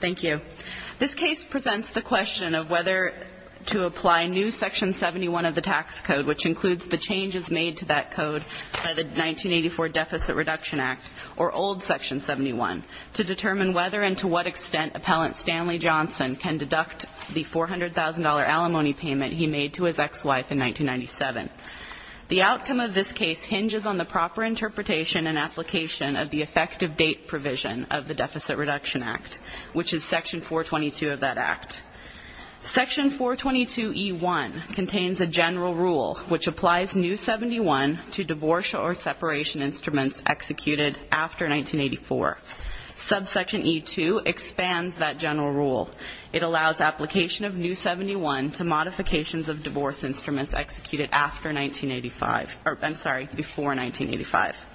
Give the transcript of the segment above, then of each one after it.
Thank you. This case presents the question of whether to apply new Section 71 of the tax code, which includes the changes made to that code by the 1984 Deficit Reduction Act, or old Section 71, to determine whether and to what extent Appellant Stanley Johnson can deduct the $400,000 alimony payment he made to his ex-wife in 1997. The outcome of the proper interpretation and application of the effective date provision of the Deficit Reduction Act, which is Section 422 of that Act. Section 422E1 contains a general rule, which applies New 71 to divorce or separation instruments executed after 1984. Subsection E2 expands that general rule. It allows application of New 71 to modifications of divorce instruments executed after 1985, or I'm sorry, before 1985.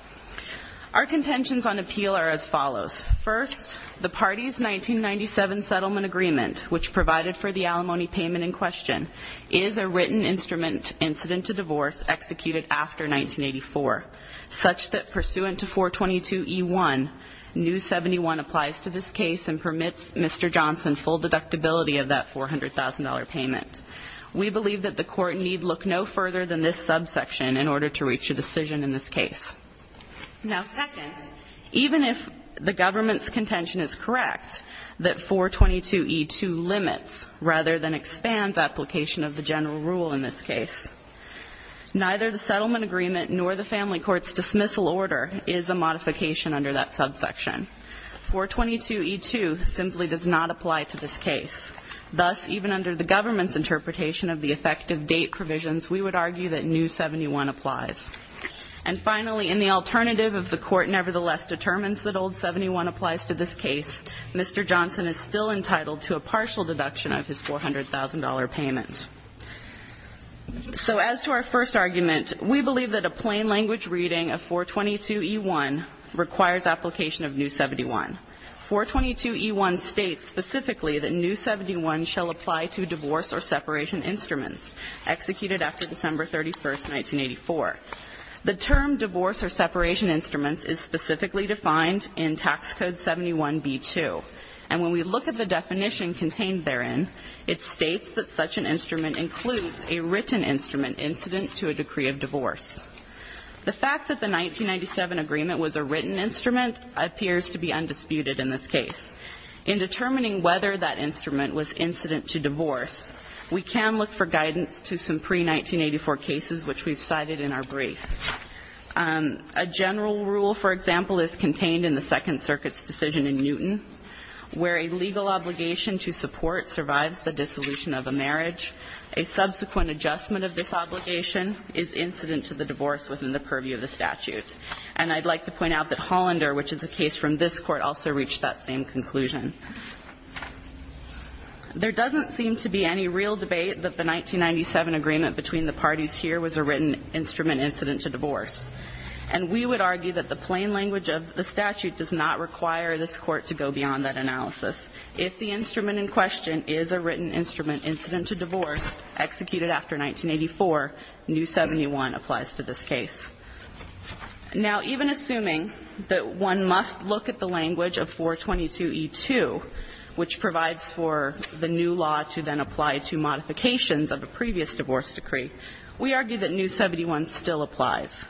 Our contentions on appeal are as follows. First, the party's 1997 settlement agreement, which provided for the alimony payment in question, is a written instrument incident to divorce executed after 1984, such that pursuant to 422E1, New 71 applies to this case and permits Mr. Johnson full deductibility of that $400,000 payment. We believe that the Court need look no further than this subsection in order to reach a decision in this case. Now, second, even if the government's contention is correct that 422E2 limits rather than expands application of the general rule in this case, neither the settlement agreement nor the family court's dismissal order is a modification under that subsection. 422E2 simply does not apply to this case. Thus, even under the government's interpretation of the effective date provisions, we would argue that New 71 applies. And finally, in the alternative if the Court nevertheless determines that Old 71 applies to this case, Mr. Johnson is still entitled to a partial deduction of his $400,000 payment. So as to our first argument, we believe that a plain language reading of 422E1 requires application of New 71. 422E1 states specifically that New 71 shall apply to divorce or separation instruments executed after December 31, 1984. The term divorce or separation instruments is specifically defined in Tax Code 71B2. And when we look at the definition contained therein, it states that such an instrument includes a written instrument incident to a decree of divorce. The fact that the 1997 agreement was a written instrument appears to be undisputed in this case. In determining whether that instrument was incident to divorce, we can look for guidance to some pre-1984 cases which we've cited in our brief. A general rule, for example, is contained in the Second Circuit's decision in Newton, where a legal obligation to support survives the dissolution of a marriage. A subsequent adjustment of this obligation is incident to the divorce within the purview of the statute. And I'd like to point out that Hollander, which is a case from this Court, also reached that same conclusion. There doesn't seem to be any real debate that the 1997 agreement between the parties here was a written instrument incident to divorce. And we would argue that the plain language of the statute does not require this Court to go beyond that analysis. If the instrument in question is a written instrument incident to divorce executed after 1984, New 71 applies to this case. Now, even assuming that one must look at the language of 422e2, which provides for the new law to then apply to modifications of a previous divorce decree, we argue that New 71 still applies.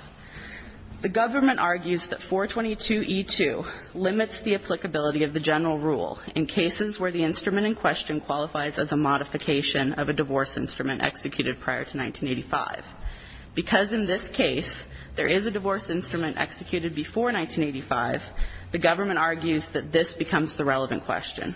The government argues that 422e2 limits the applicability of the general rule, including the use in cases where the instrument in question qualifies as a modification of a divorce instrument executed prior to 1985. Because in this case, there is a divorce instrument executed before 1985, the government argues that this becomes the relevant question.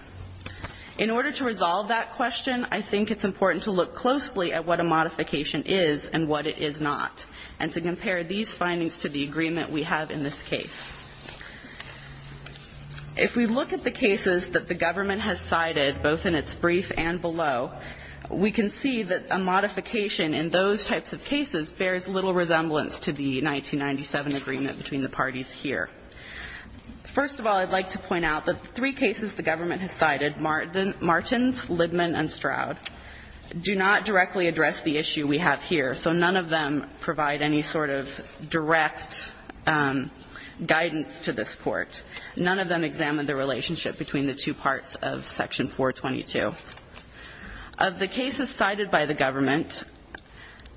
In order to resolve that question, I think it's important to look closely at what a modification is and what it is not, and to compare these findings to the agreement we have in this case. If we look at the cases that the government has cited, both in its brief and below, we can see that a modification in those types of cases bears little resemblance to the 1997 agreement between the parties here. First of all, I'd like to point out that the three cases the government has cited, Martins, Lidman and Stroud, do not directly address the issue we have here. So none of them provide any sort of direct guidance to this court. None of them examine the relationship between the two parts of section 422. Of the cases cited by the government,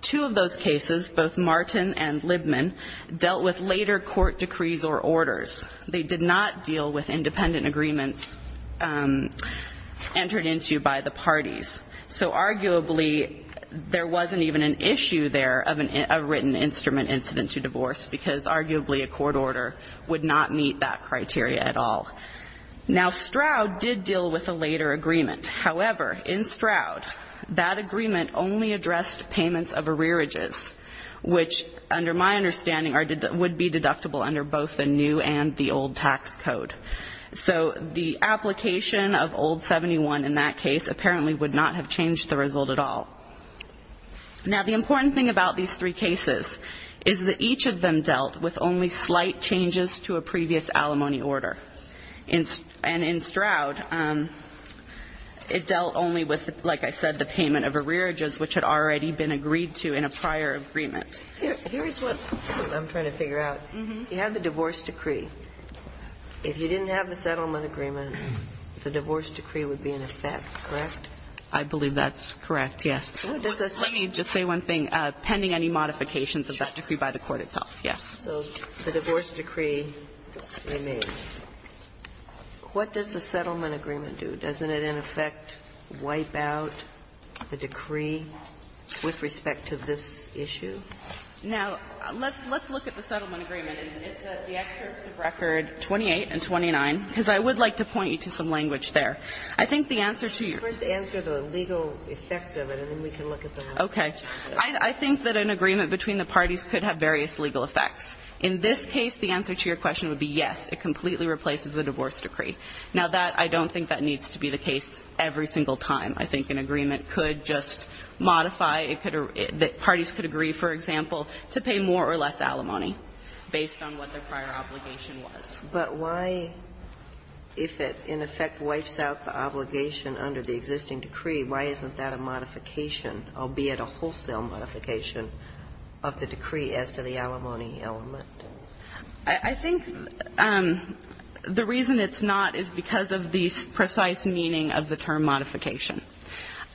two of those cases, both Martin and Lidman, dealt with later court decrees or orders. They did not deal with independent agreements entered into by the parties. So arguably, there wasn't even an issue there of a written instrument incident to divorce, because arguably a court order would not meet that criteria at all. Now, Stroud did deal with a later agreement. However, in Stroud, that agreement only addressed payments of arrearages, which under my understanding would be deductible under both the new and the old tax code. So the application of old 71 in that case apparently would not have changed the result at all. Now, the important thing about these three cases is that each of them dealt with only slight changes to a previous alimony order. And in Stroud, it dealt only with, like I said, the payment of arrearages, which had already been agreed to in a prior agreement. Here is what I'm trying to figure out. You have the divorce decree. If you didn't have the settlement agreement, the divorce decree would be in effect, correct? I believe that's correct, yes. Let me just say one thing. Pending any modifications of that decree by the court itself, yes. So the divorce decree they made, what does the settlement agreement do? Doesn't it, in effect, wipe out the decree with respect to this issue? Now, let's look at the settlement agreement. It's at the excerpts of record 28 and 29, because I would like to point you to some language there. I think the answer to your question. First answer the legal effect of it, and then we can look at the language. Okay. I think that an agreement between the parties could have various legal effects. In this case, the answer to your question would be yes, it completely replaces the divorce decree. Now, that, I don't think that needs to be the case every single time. I think an agreement could just modify, it could, parties could agree, for example, to pay more or less alimony based on what their prior obligation was. But why, if it, in effect, wipes out the obligation under the existing decree, why isn't that a modification, albeit a wholesale modification of the decree as to the alimony element? I think the reason it's not is because of the precise meaning of the term modification.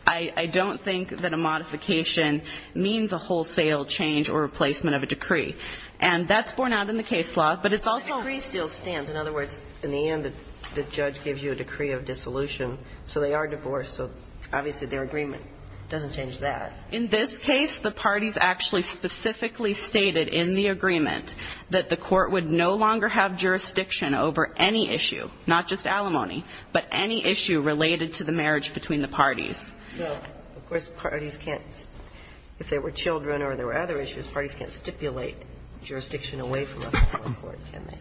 I, I don't think that a modification means a wholesale change or replacement of a decree. And that's borne out in the case law, but it's also But the decree still stands. In other words, in the end, the judge gives you a decree of dissolution, so they are divorced, so obviously their agreement doesn't change that. In this case, the parties actually specifically stated in the agreement that the court would no longer have jurisdiction over any issue, not just alimony, but any issue related to the marriage between the parties. But, of course, parties can't, if they were children or there were other issues, parties can't stipulate jurisdiction away from a court, can they?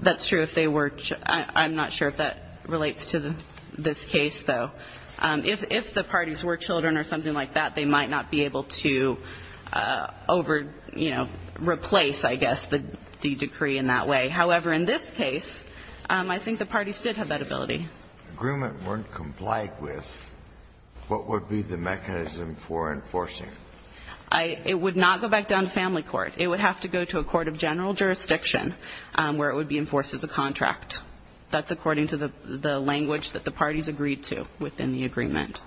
That's true if they were, I'm not sure if that relates to this case, though. If, if the parties were children or something like that, they might not be able to over, you know, replace, I guess, the decree in that way. However, in this case, I think the parties did have that ability. If the agreement weren't complied with, what would be the mechanism for enforcing it? I, it would not go back down to family court. It would have to go to a court of general jurisdiction where it would be enforced as a contract. That's according to the, the language that the parties agreed to within the agreement.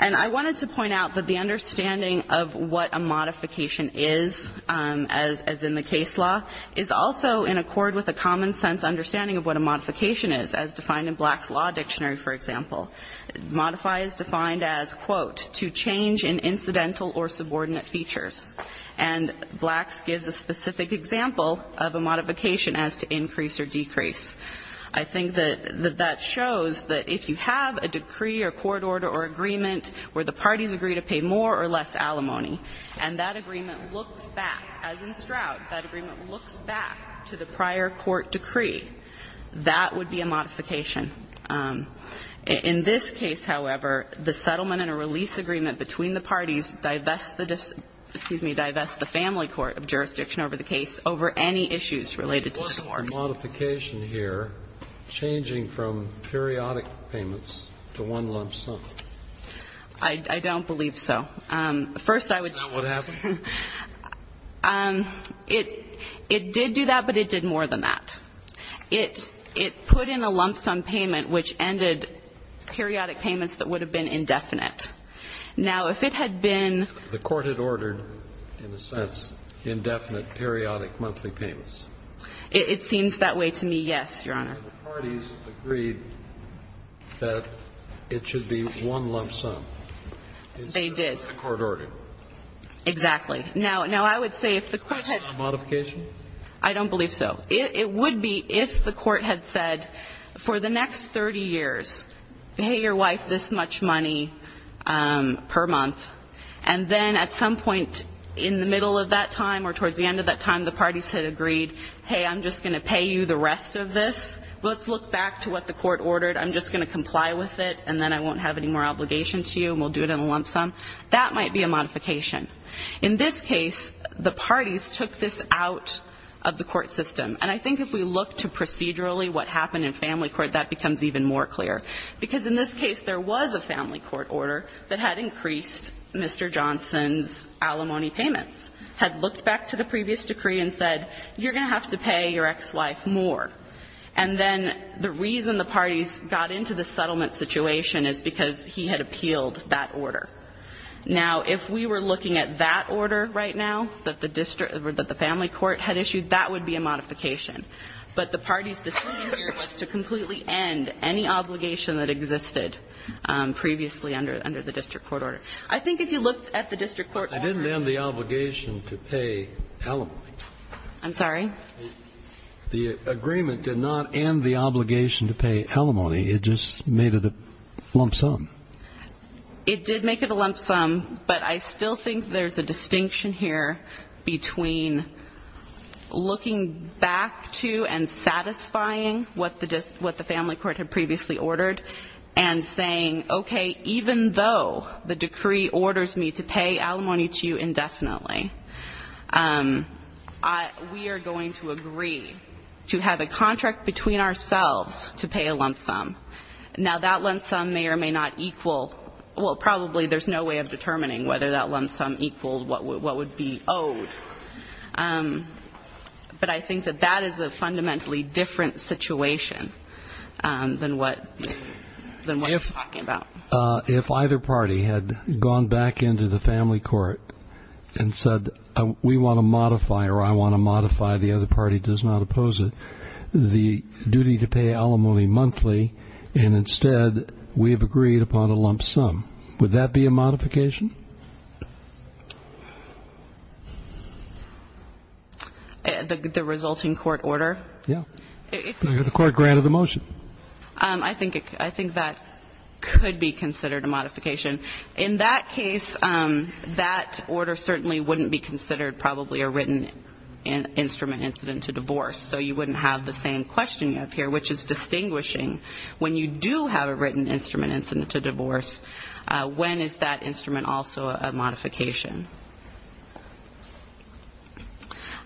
And I wanted to point out that the understanding of what a modification is as, as in the case law, is also in accord with the common sense understanding of what a modification is, as defined in Black's Law Dictionary, for example. Modify is defined as, quote, to change in incidental or subordinate features. And Black's gives a specific example of a modification as to increase or decrease. I think that, that that shows that if you have a decree or court order or agreement where the parties agree to pay more or less alimony, and that agreement looks back as in Stroud, that agreement looks back to the prior court decree, that would be a modification. In this case, however, the settlement and a release agreement between the parties divest the, excuse me, divest the family court of jurisdiction over the case over any issues related to scores. There wasn't a modification here changing from periodic payments to one lump sum. I, I don't believe so. First, I would. Isn't that what happened? It, it did do that, but it did more than that. It, it put in a lump sum payment, which ended periodic payments that would have been indefinite. Now, if it had been. The court had ordered, in a sense, indefinite periodic monthly payments. It, it seems that way to me, yes, Your Honor. The parties agreed that it should be one lump sum. They did. That's what the court ordered. Exactly. Now, now I would say if the court had. Is that a modification? I don't believe so. It, it would be if the court had said, for the next 30 years, pay your wife this much money per month, and then at some point in the middle of that time or towards the end of that time, the parties had agreed, hey, I'm just going to pay you the rest of this. Let's look back to what the court ordered. I'm just going to comply with it, and then I won't have any more obligation to you, and we'll do it in a lump sum. That might be a modification. In this case, the parties took this out of the court system. And I think if we look to procedurally what happened in family court, that becomes even more clear. Because in this case, there was a family court order that had increased Mr. Johnson's alimony payments, had looked back to the previous decree and said, you're going to have to pay your ex-wife more. And then the reason the parties got into the settlement situation is because he had appealed that order. Now, if we were looking at that order right now that the family court had issued, that would be a modification. But the parties' decision here was to completely end any obligation that existed previously under the district court order. I think if you look at the district court order ---- I didn't end the obligation to pay alimony. I'm sorry? The agreement did not end the obligation to pay alimony. It just made it a lump sum. It did make it a lump sum. But I still think there's a distinction here between looking back to and satisfying what the family court had previously ordered and saying, okay, even though the decree orders me to pay alimony to you indefinitely, we are going to agree to have a contract between ourselves to pay a lump sum. Now, that lump sum may or may not equal ---- well, probably there's no way of determining whether that lump sum equaled what would be owed. But I think that that is a fundamentally different situation than what you're talking about. If either party had gone back into the family court and said, we want to modify or I want to modify, the other party does not oppose it, the duty to pay alimony monthly, and instead we have agreed upon a lump sum, would that be a modification? The resulting court order? Yeah. The court granted the motion. I think that could be considered a modification. In that case, that order certainly wouldn't be considered probably a written instrument incident to divorce. So you wouldn't have the same question you have here, which is distinguishing when you do have a written instrument incident to divorce, when is that instrument also a modification.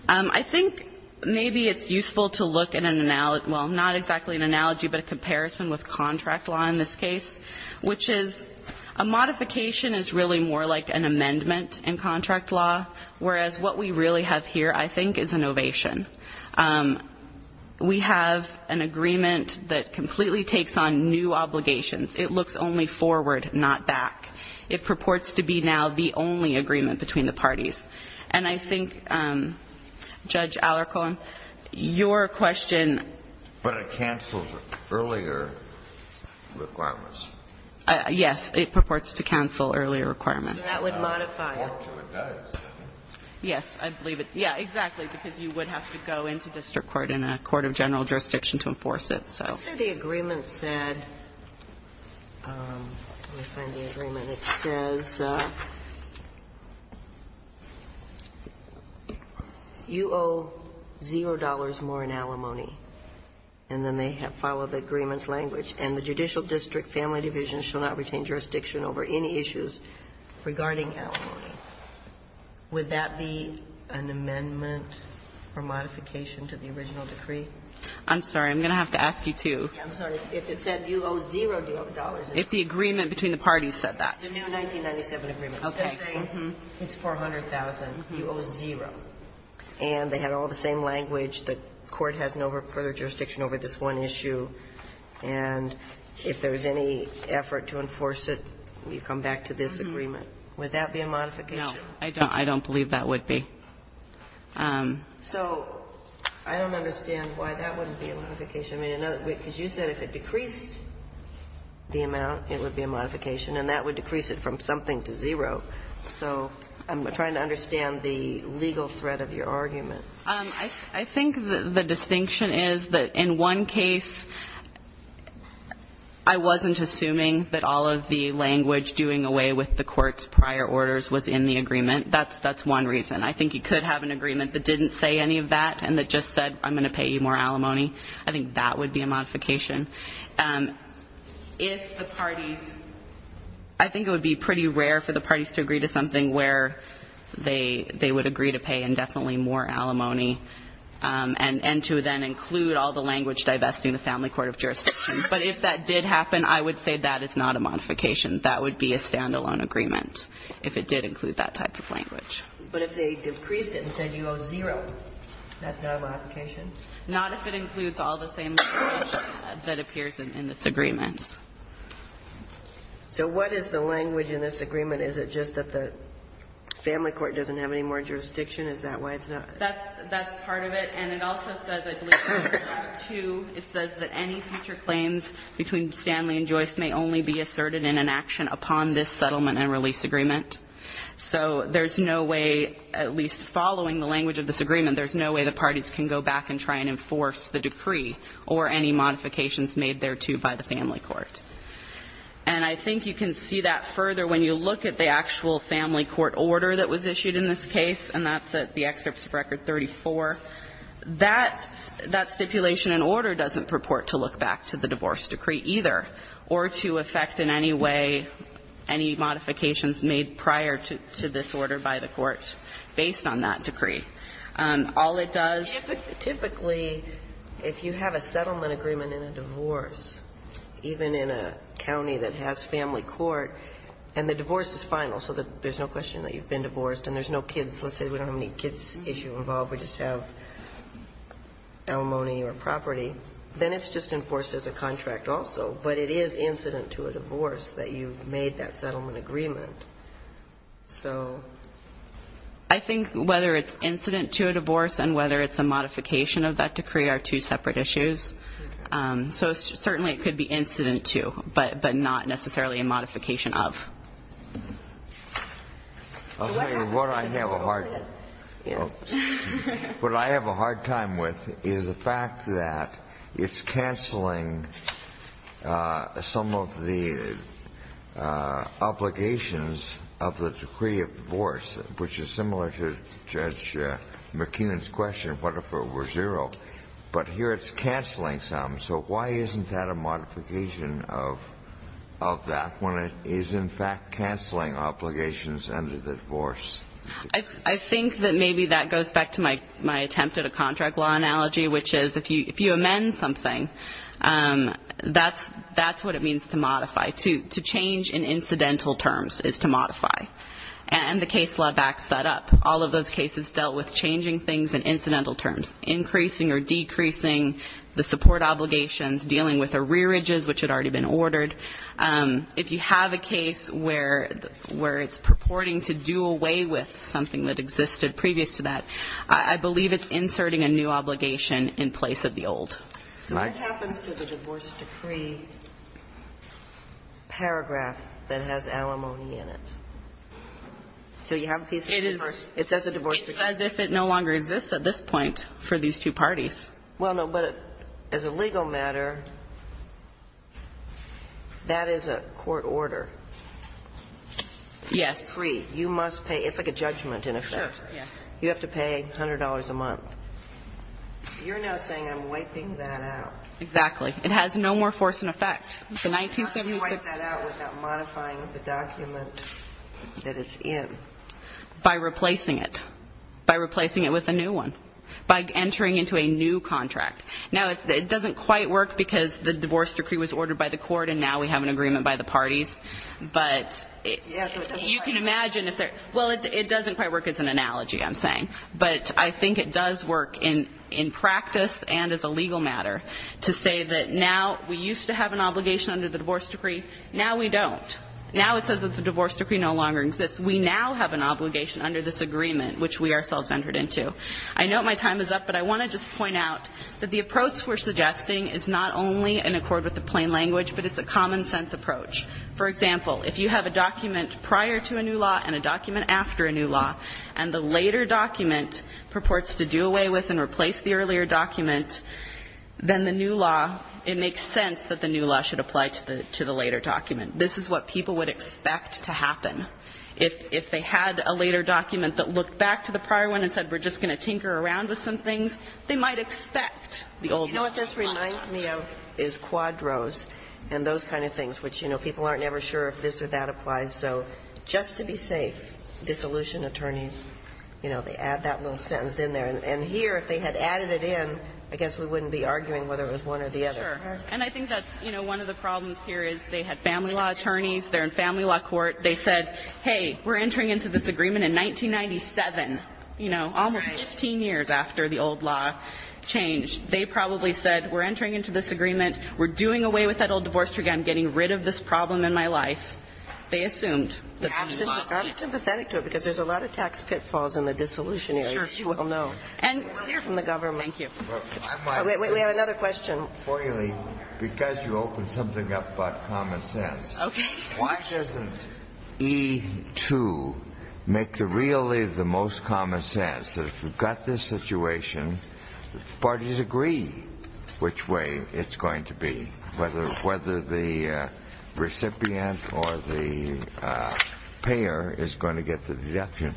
I think maybe it's useful to look at an analogy ---- well, not exactly an analogy, but a comparison with contract law in this case, which is a modification is really more like an amendment in contract law, whereas what we really have here, I think, is an ovation. We have an agreement that completely takes on new obligations. It looks only forward, not back. It purports to be now the only agreement between the parties. And I think, Judge Alarcon, your question ---- Earlier requirements. Yes. It purports to cancel earlier requirements. So that would modify it. It does. Yes. I believe it. Yeah, exactly. Because you would have to go into district court in a court of general jurisdiction Let's say the agreement said ---- let me find the agreement. It says you owe zero dollars more in alimony. And then they have followed the agreement's language. And the judicial district family division shall not retain jurisdiction over any issues regarding alimony. Would that be an amendment or modification to the original decree? I'm sorry. I'm going to have to ask you, too. I'm sorry. If it said you owe zero dollars in alimony. If the agreement between the parties said that. The new 1997 agreement. Okay. It's 400,000. You owe zero. And they had all the same language. The court has no further jurisdiction over this one issue. And if there's any effort to enforce it, you come back to this agreement. Would that be a modification? No. I don't believe that would be. So I don't understand why that wouldn't be a modification. Because you said if it decreased the amount, it would be a modification. And that would decrease it from something to zero. So I'm trying to understand the legal threat of your argument. I think the distinction is that in one case, I wasn't assuming that all of the language doing away with the court's prior orders was in the agreement. That's one reason. I think you could have an agreement that didn't say any of that and that just said I'm going to pay you more alimony. I think that would be a modification. If the parties, I think it would be pretty rare for the parties to agree to something where they would agree to pay indefinitely more alimony and to then include all the language divesting the family court of jurisdiction. But if that did happen, I would say that is not a modification. That would be a standalone agreement if it did include that type of language. But if they decreased it and said you owe zero, that's not a modification? Not if it includes all the same language that appears in this agreement. So what is the language in this agreement? Is it just that the family court doesn't have any more jurisdiction? Is that why it's not? That's part of it. And it also says, I believe, 2, it says that any future claims between Stanley and Joyce may only be asserted in an action upon this settlement and release agreement. So there's no way, at least following the language of this agreement, there's no way the parties can go back and try and enforce the decree or any modifications made thereto by the family court. And I think you can see that further when you look at the actual family court order that was issued in this case, and that's at the excerpts of Record 34. That stipulation and order doesn't purport to look back to the divorce decree either or to affect in any way any modifications made prior to this order by the court based on that decree. All it does ---- Typically, if you have a settlement agreement in a divorce, even in a county that has family court, and the divorce is final so that there's no question that you've been divorced and there's no kids, let's say we don't have any kids issue involved, we just have alimony or property, then it's just enforced as a contract also. But it is incident to a divorce that you've made that settlement agreement. So I think whether it's incident to a divorce and whether it's a modification of that decree are two separate issues. So certainly it could be incident to, but not necessarily a modification of. I'll tell you what I have a hard time with is the fact that it's canceling some of the obligations of the decree of divorce, which is similar to Judge McKinnon's question, what if it were zero? But here it's canceling some. So why isn't that a modification of that when it is in fact canceling obligations under the divorce? I think that maybe that goes back to my attempt at a contract law analogy, which is if you amend something, that's what it means to modify. To change in incidental terms is to modify. And the case law backs that up. All of those cases dealt with changing things in incidental terms, increasing or decreasing the support obligations, dealing with arrearages, which had already been ordered. If you have a case where it's purporting to do away with something that existed previous to that, I believe it's inserting a new obligation in place of the old. What happens to the divorce decree paragraph that has alimony in it? So you have a piece of paper. It says a divorce decree. It says if it no longer exists at this point for these two parties. Well, no, but as a legal matter, that is a court order. Yes. You must pay. It's like a judgment in effect. Yes. You have to pay $100 a month. You're now saying I'm wiping that out. Exactly. It has no more force in effect. How can you wipe that out without modifying the document that it's in? By replacing it. By replacing it with a new one. By entering into a new contract. Now, it doesn't quite work because the divorce decree was ordered by the court, and now we have an agreement by the parties. But you can imagine if they're ñ well, it doesn't quite work. It doesn't work as an analogy, I'm saying. But I think it does work in practice and as a legal matter to say that now we used to have an obligation under the divorce decree. Now we don't. Now it says that the divorce decree no longer exists. We now have an obligation under this agreement, which we ourselves entered into. I know my time is up, but I want to just point out that the approach we're suggesting is not only in accord with the plain language, but it's a common sense approach. For example, if you have a document prior to a new law and a document after a new law, and the later document purports to do away with and replace the earlier document, then the new law, it makes sense that the new law should apply to the later document. This is what people would expect to happen. If they had a later document that looked back to the prior one and said we're just going to tinker around with some things, they might expect the old law. You know what this reminds me of is Quadros and those kind of things, which, you know, people aren't ever sure if this or that applies. So just to be safe, dissolution attorneys, you know, they add that little sentence in there. And here, if they had added it in, I guess we wouldn't be arguing whether it was one or the other. Sure. And I think that's, you know, one of the problems here is they had family law attorneys, they're in family law court. They said, hey, we're entering into this agreement in 1997, you know, almost 15 years after the old law changed. They probably said we're entering into this agreement, we're doing away with that old divorce decree, I'm getting rid of this problem in my life. They assumed. I'm sympathetic to it because there's a lot of tax pitfalls in the dissolution area, as you well know. And we'll hear from the government. Thank you. We have another question. Because you opened something up about common sense. Okay. Why doesn't E2 make really the most common sense that if we've got this situation, parties agree which way it's going to be, whether the recipient or the payer is going to get the deduction?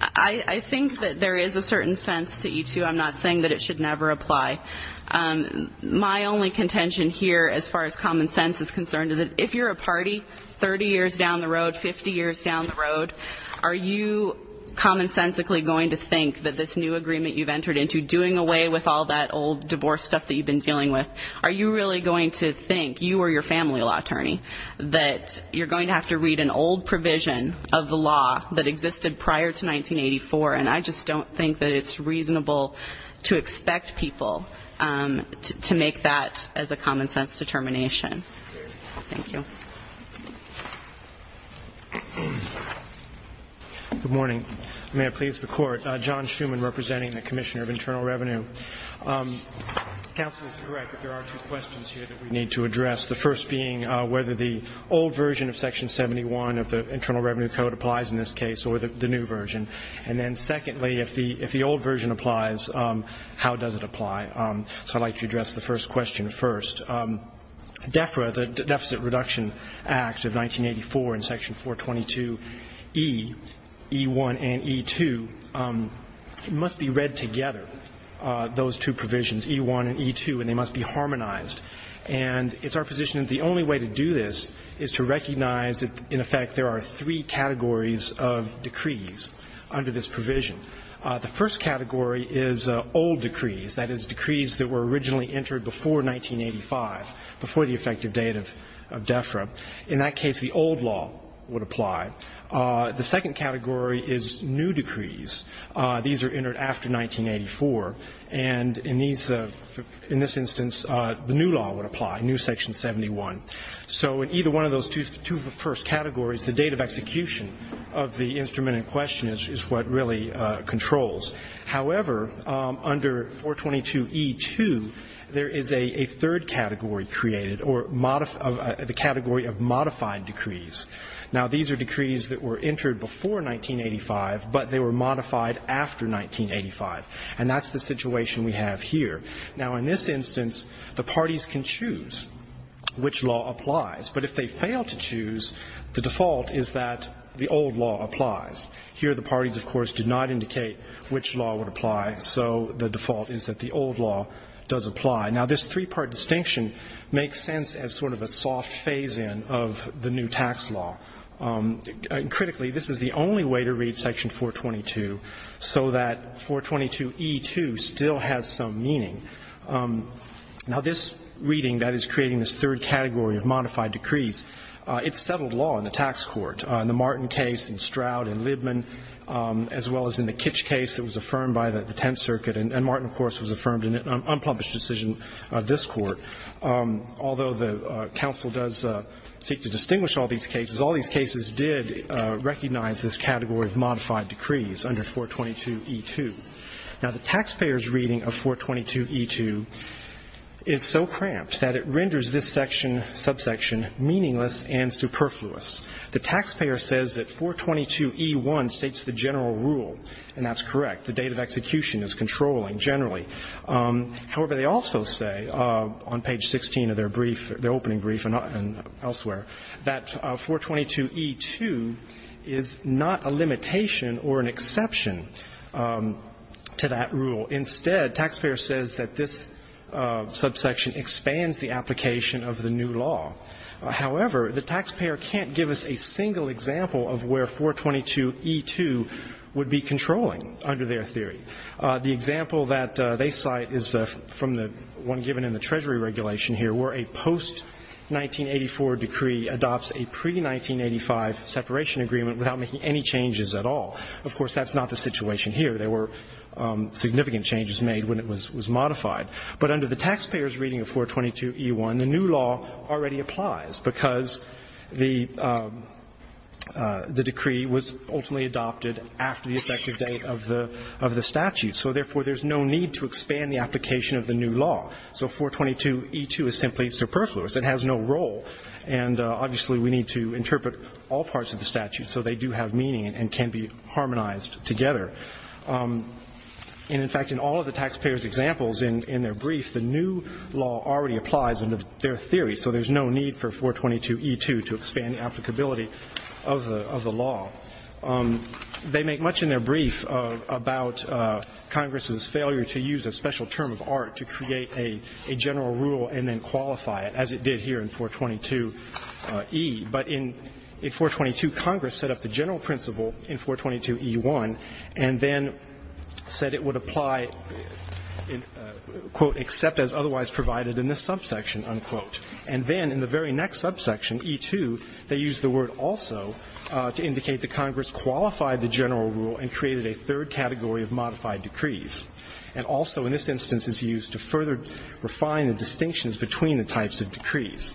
I think that there is a certain sense to E2. I'm not saying that it should never apply. My only contention here, as far as common sense is concerned, is that if you're a party 30 years down the road, 50 years down the road, are you commonsensically going to think that this new agreement you've entered into, doing away with all that old divorce stuff that you've been dealing with, are you really going to think, you or your family law attorney, that you're going to have to read an old provision of the law that existed prior to 1984? And I just don't think that it's reasonable to expect people to make that as a common sense determination. Thank you. Good morning. May it please the Court. John Schuman, representing the Commissioner of Internal Revenue. Counsel is correct that there are two questions here that we need to address, the first being whether the old version of Section 71 of the Internal Revenue Code applies in this case or the new version. And then secondly, if the old version applies, how does it apply? So I'd like to address the first question first. DEFRA, the Deficit Reduction Act of 1984 in Section 422E, E1 and E2, must be read together, those two provisions, E1 and E2, and they must be harmonized. And it's our position that the only way to do this is to recognize that, in effect, there are three categories of decrees under this provision. The first category is old decrees, that is, decrees that were originally entered before 1985, before the effective date of DEFRA. In that case, the old law would apply. The second category is new decrees. These are entered after 1984. And in this instance, the new law would apply, new Section 71. So in either one of those two first categories, the date of execution of the instrument in question is what really controls. However, under 422E2, there is a third category created, or the category of modified decrees. Now, these are decrees that were entered before 1985, but they were modified after 1985. And that's the situation we have here. Now, in this instance, the parties can choose which law applies. But if they fail to choose, the default is that the old law applies. Here, the parties, of course, do not indicate which law would apply. So the default is that the old law does apply. Now, this three-part distinction makes sense as sort of a soft phase-in of the new tax law. Critically, this is the only way to read Section 422 so that 422E2 still has some meaning. Now, this reading that is creating this third category of modified decrees, it's settled law in the tax court. In the Martin case, in Stroud, in Libman, as well as in the Kitsch case, it was affirmed by the Tenth Circuit. And Martin, of course, was affirmed in an unpublished decision of this Court. Although the counsel does seek to distinguish all these cases, all these cases did recognize this category of modified decrees under 422E2. Now, the taxpayers' reading of 422E2 is so cramped that it renders this section, subsection, meaningless and superfluous. The taxpayer says that 422E1 states the general rule, and that's correct. The date of execution is controlling generally. However, they also say on page 16 of their brief, their opening brief and elsewhere, that 422E2 is not a limitation or an exception to that rule. Instead, taxpayer says that this subsection expands the application of the new law. However, the taxpayer can't give us a single example of where 422E2 would be controlling under their theory. The example that they cite is from the one given in the Treasury regulation here, where a post-1984 decree adopts a pre-1985 separation agreement without making any changes at all. Of course, that's not the situation here. There were significant changes made when it was modified. But under the taxpayers' reading of 422E1, the new law already applies because the decree was ultimately adopted after the effective date of the statute. So, therefore, there's no need to expand the application of the new law. So 422E2 is simply superfluous. It has no role. And, obviously, we need to interpret all parts of the statute so they do have meaning and can be harmonized together. And, in fact, in all of the taxpayers' examples in their brief, the new law already applies under their theory. So there's no need for 422E2 to expand the applicability of the law. They make much in their brief about Congress's failure to use a special term of art to create a general rule and then qualify it, as it did here in 422E. But in 422, Congress set up the general principle in 422E1 and then said it would apply, quote, except as otherwise provided in this subsection, unquote. And then in the very next subsection, E2, they used the word also to indicate that Congress qualified the general rule and created a third category of modified decrees. And also in this instance is used to further refine the distinctions between the types of decrees.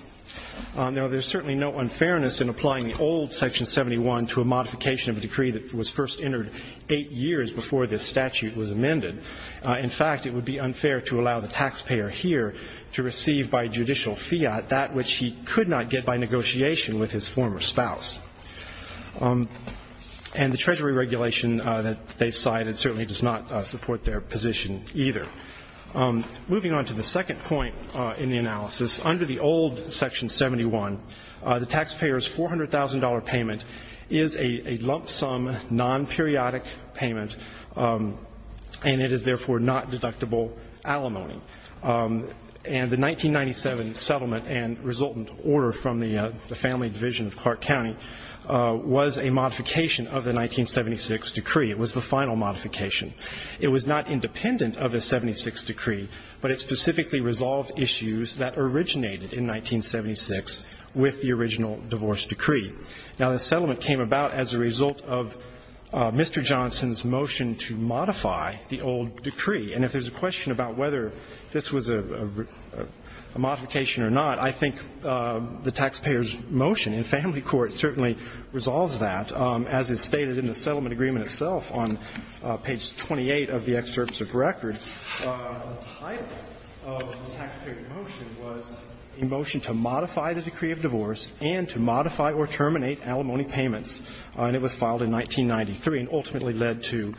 Now, there's certainly no unfairness in applying the old Section 71 to a modification of a decree that was first entered eight years before this statute was amended. In fact, it would be unfair to allow the taxpayer here to receive by judicial fiat that which he could not get by negotiation with his former spouse. And the Treasury regulation that they cited certainly does not support their position either. Moving on to the second point in the analysis, under the old Section 71, the taxpayer's $400,000 payment is a lump sum, non-periodic payment, and it is therefore not deductible alimony. And the 1997 settlement and resultant order from the family division of Clark County was a modification of the 1976 decree. It was the final modification. It was not independent of the 1976 decree, but it specifically resolved issues that originated in 1976 with the original divorce decree. Now, the settlement came about as a result of Mr. Johnson's motion to modify the old decree. And if there's a question about whether this was a modification or not, I think the taxpayer's motion in family court certainly resolves that, as is stated in the settlement agreement itself on page 28 of the excerpt of the record. The title of the taxpayer's motion was a motion to modify the decree of divorce and to modify or terminate alimony payments. And it was filed in 1993 and ultimately led to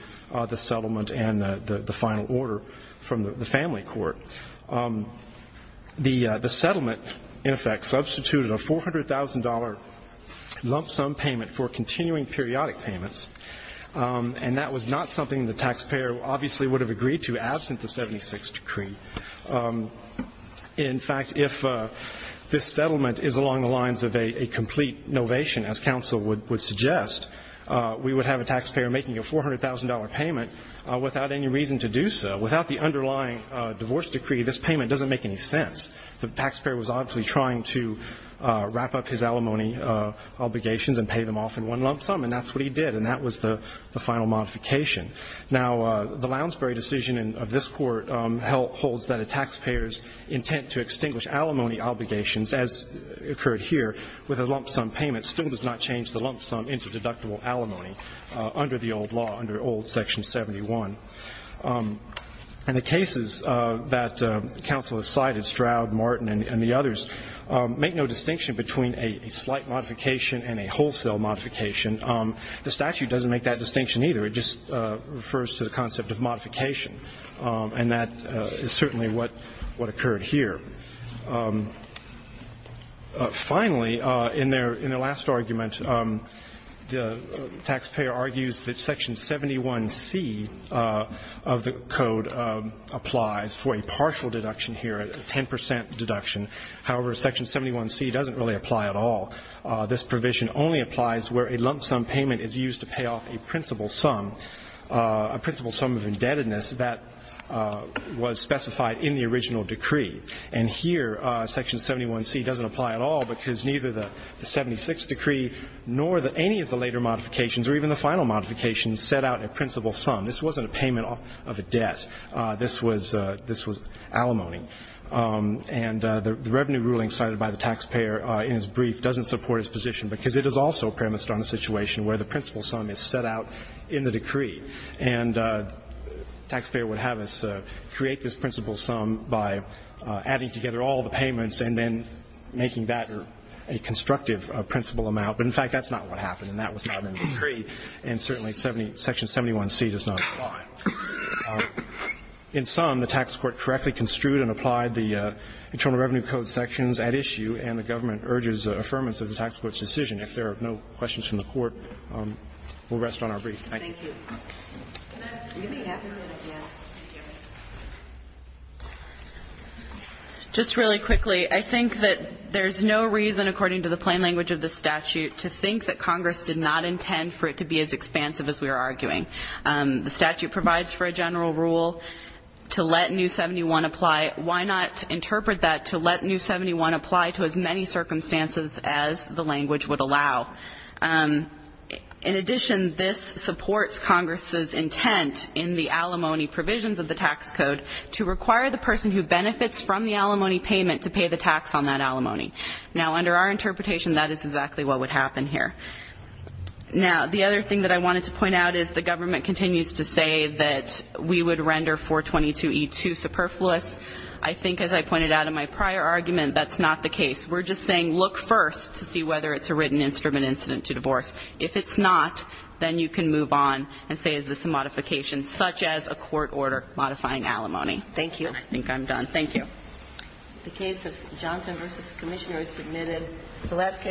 the settlement and the final order from the family court. The settlement, in effect, substituted a $400,000 lump sum payment for continuing periodic payments. And that was not something the taxpayer obviously would have agreed to absent the 1976 decree. In fact, if this settlement is along the lines of a complete novation, as counsel would suggest, we would have a taxpayer making a $400,000 payment without any reason to do so. Without the underlying divorce decree, this payment doesn't make any sense. The taxpayer was obviously trying to wrap up his alimony obligations and pay them off in one lump sum, and that's what he did. And that was the final modification. Now, the Lounsbury decision of this Court holds that a taxpayer's intent to extinguish alimony obligations, as occurred here with a lump sum payment, still does not change the lump sum into deductible alimony under the old law, under old Section 71. And the cases that counsel has cited, Stroud, Martin, and the others, make no distinction between a slight modification and a wholesale modification. The statute doesn't make that distinction either. It just refers to the concept of modification. And that is certainly what occurred here. Finally, in their last argument, the taxpayer argues that Section 71C of the Code applies for a partial deduction here, a 10 percent deduction. However, Section 71C doesn't really apply at all. This provision only applies where a lump sum payment is used to pay off a principal sum, a principal sum of indebtedness that was specified in the original decree. And here, Section 71C doesn't apply at all because neither the 76th decree nor any of the later modifications or even the final modifications set out a principal sum. This wasn't a payment of a debt. This was alimony. And the revenue ruling cited by the taxpayer in his brief doesn't support his position because it is also premised on a situation where the principal sum is set out in the decree. And the taxpayer would have us create this principal sum by adding together all the payments and then making that a constructive principal amount. But, in fact, that's not what happened, and that was not in the decree. And certainly Section 71C does not apply. In sum, the tax court correctly construed and applied the Internal Revenue Code sections at issue, and the government urges affirmance of the tax court's decision. If there are no questions from the Court, we'll rest on our brief. Thank you. Can I ask a quick question? Just really quickly, I think that there's no reason, according to the plain language of the statute, to think that Congress did not intend for it to be as expansive as we are arguing. The statute provides for a general rule to let New 71 apply. Why not interpret that to let New 71 apply to as many circumstances as the language would allow? In addition, this supports Congress's intent in the alimony provisions of the tax code to require the person who benefits from the alimony payment to pay the tax on that alimony. Now, under our interpretation, that is exactly what would happen here. Now, the other thing that I wanted to point out is the government continues to say that we would render 422E2 superfluous. I think, as I pointed out in my prior argument, that's not the case. We're just saying look first to see whether it's a written instrument incident to divorce. If it's not, then you can move on and say is this a modification, such as a court order modifying alimony. Thank you. I think I'm done. Thank you. The case of Johnson v. Commissioner is submitted.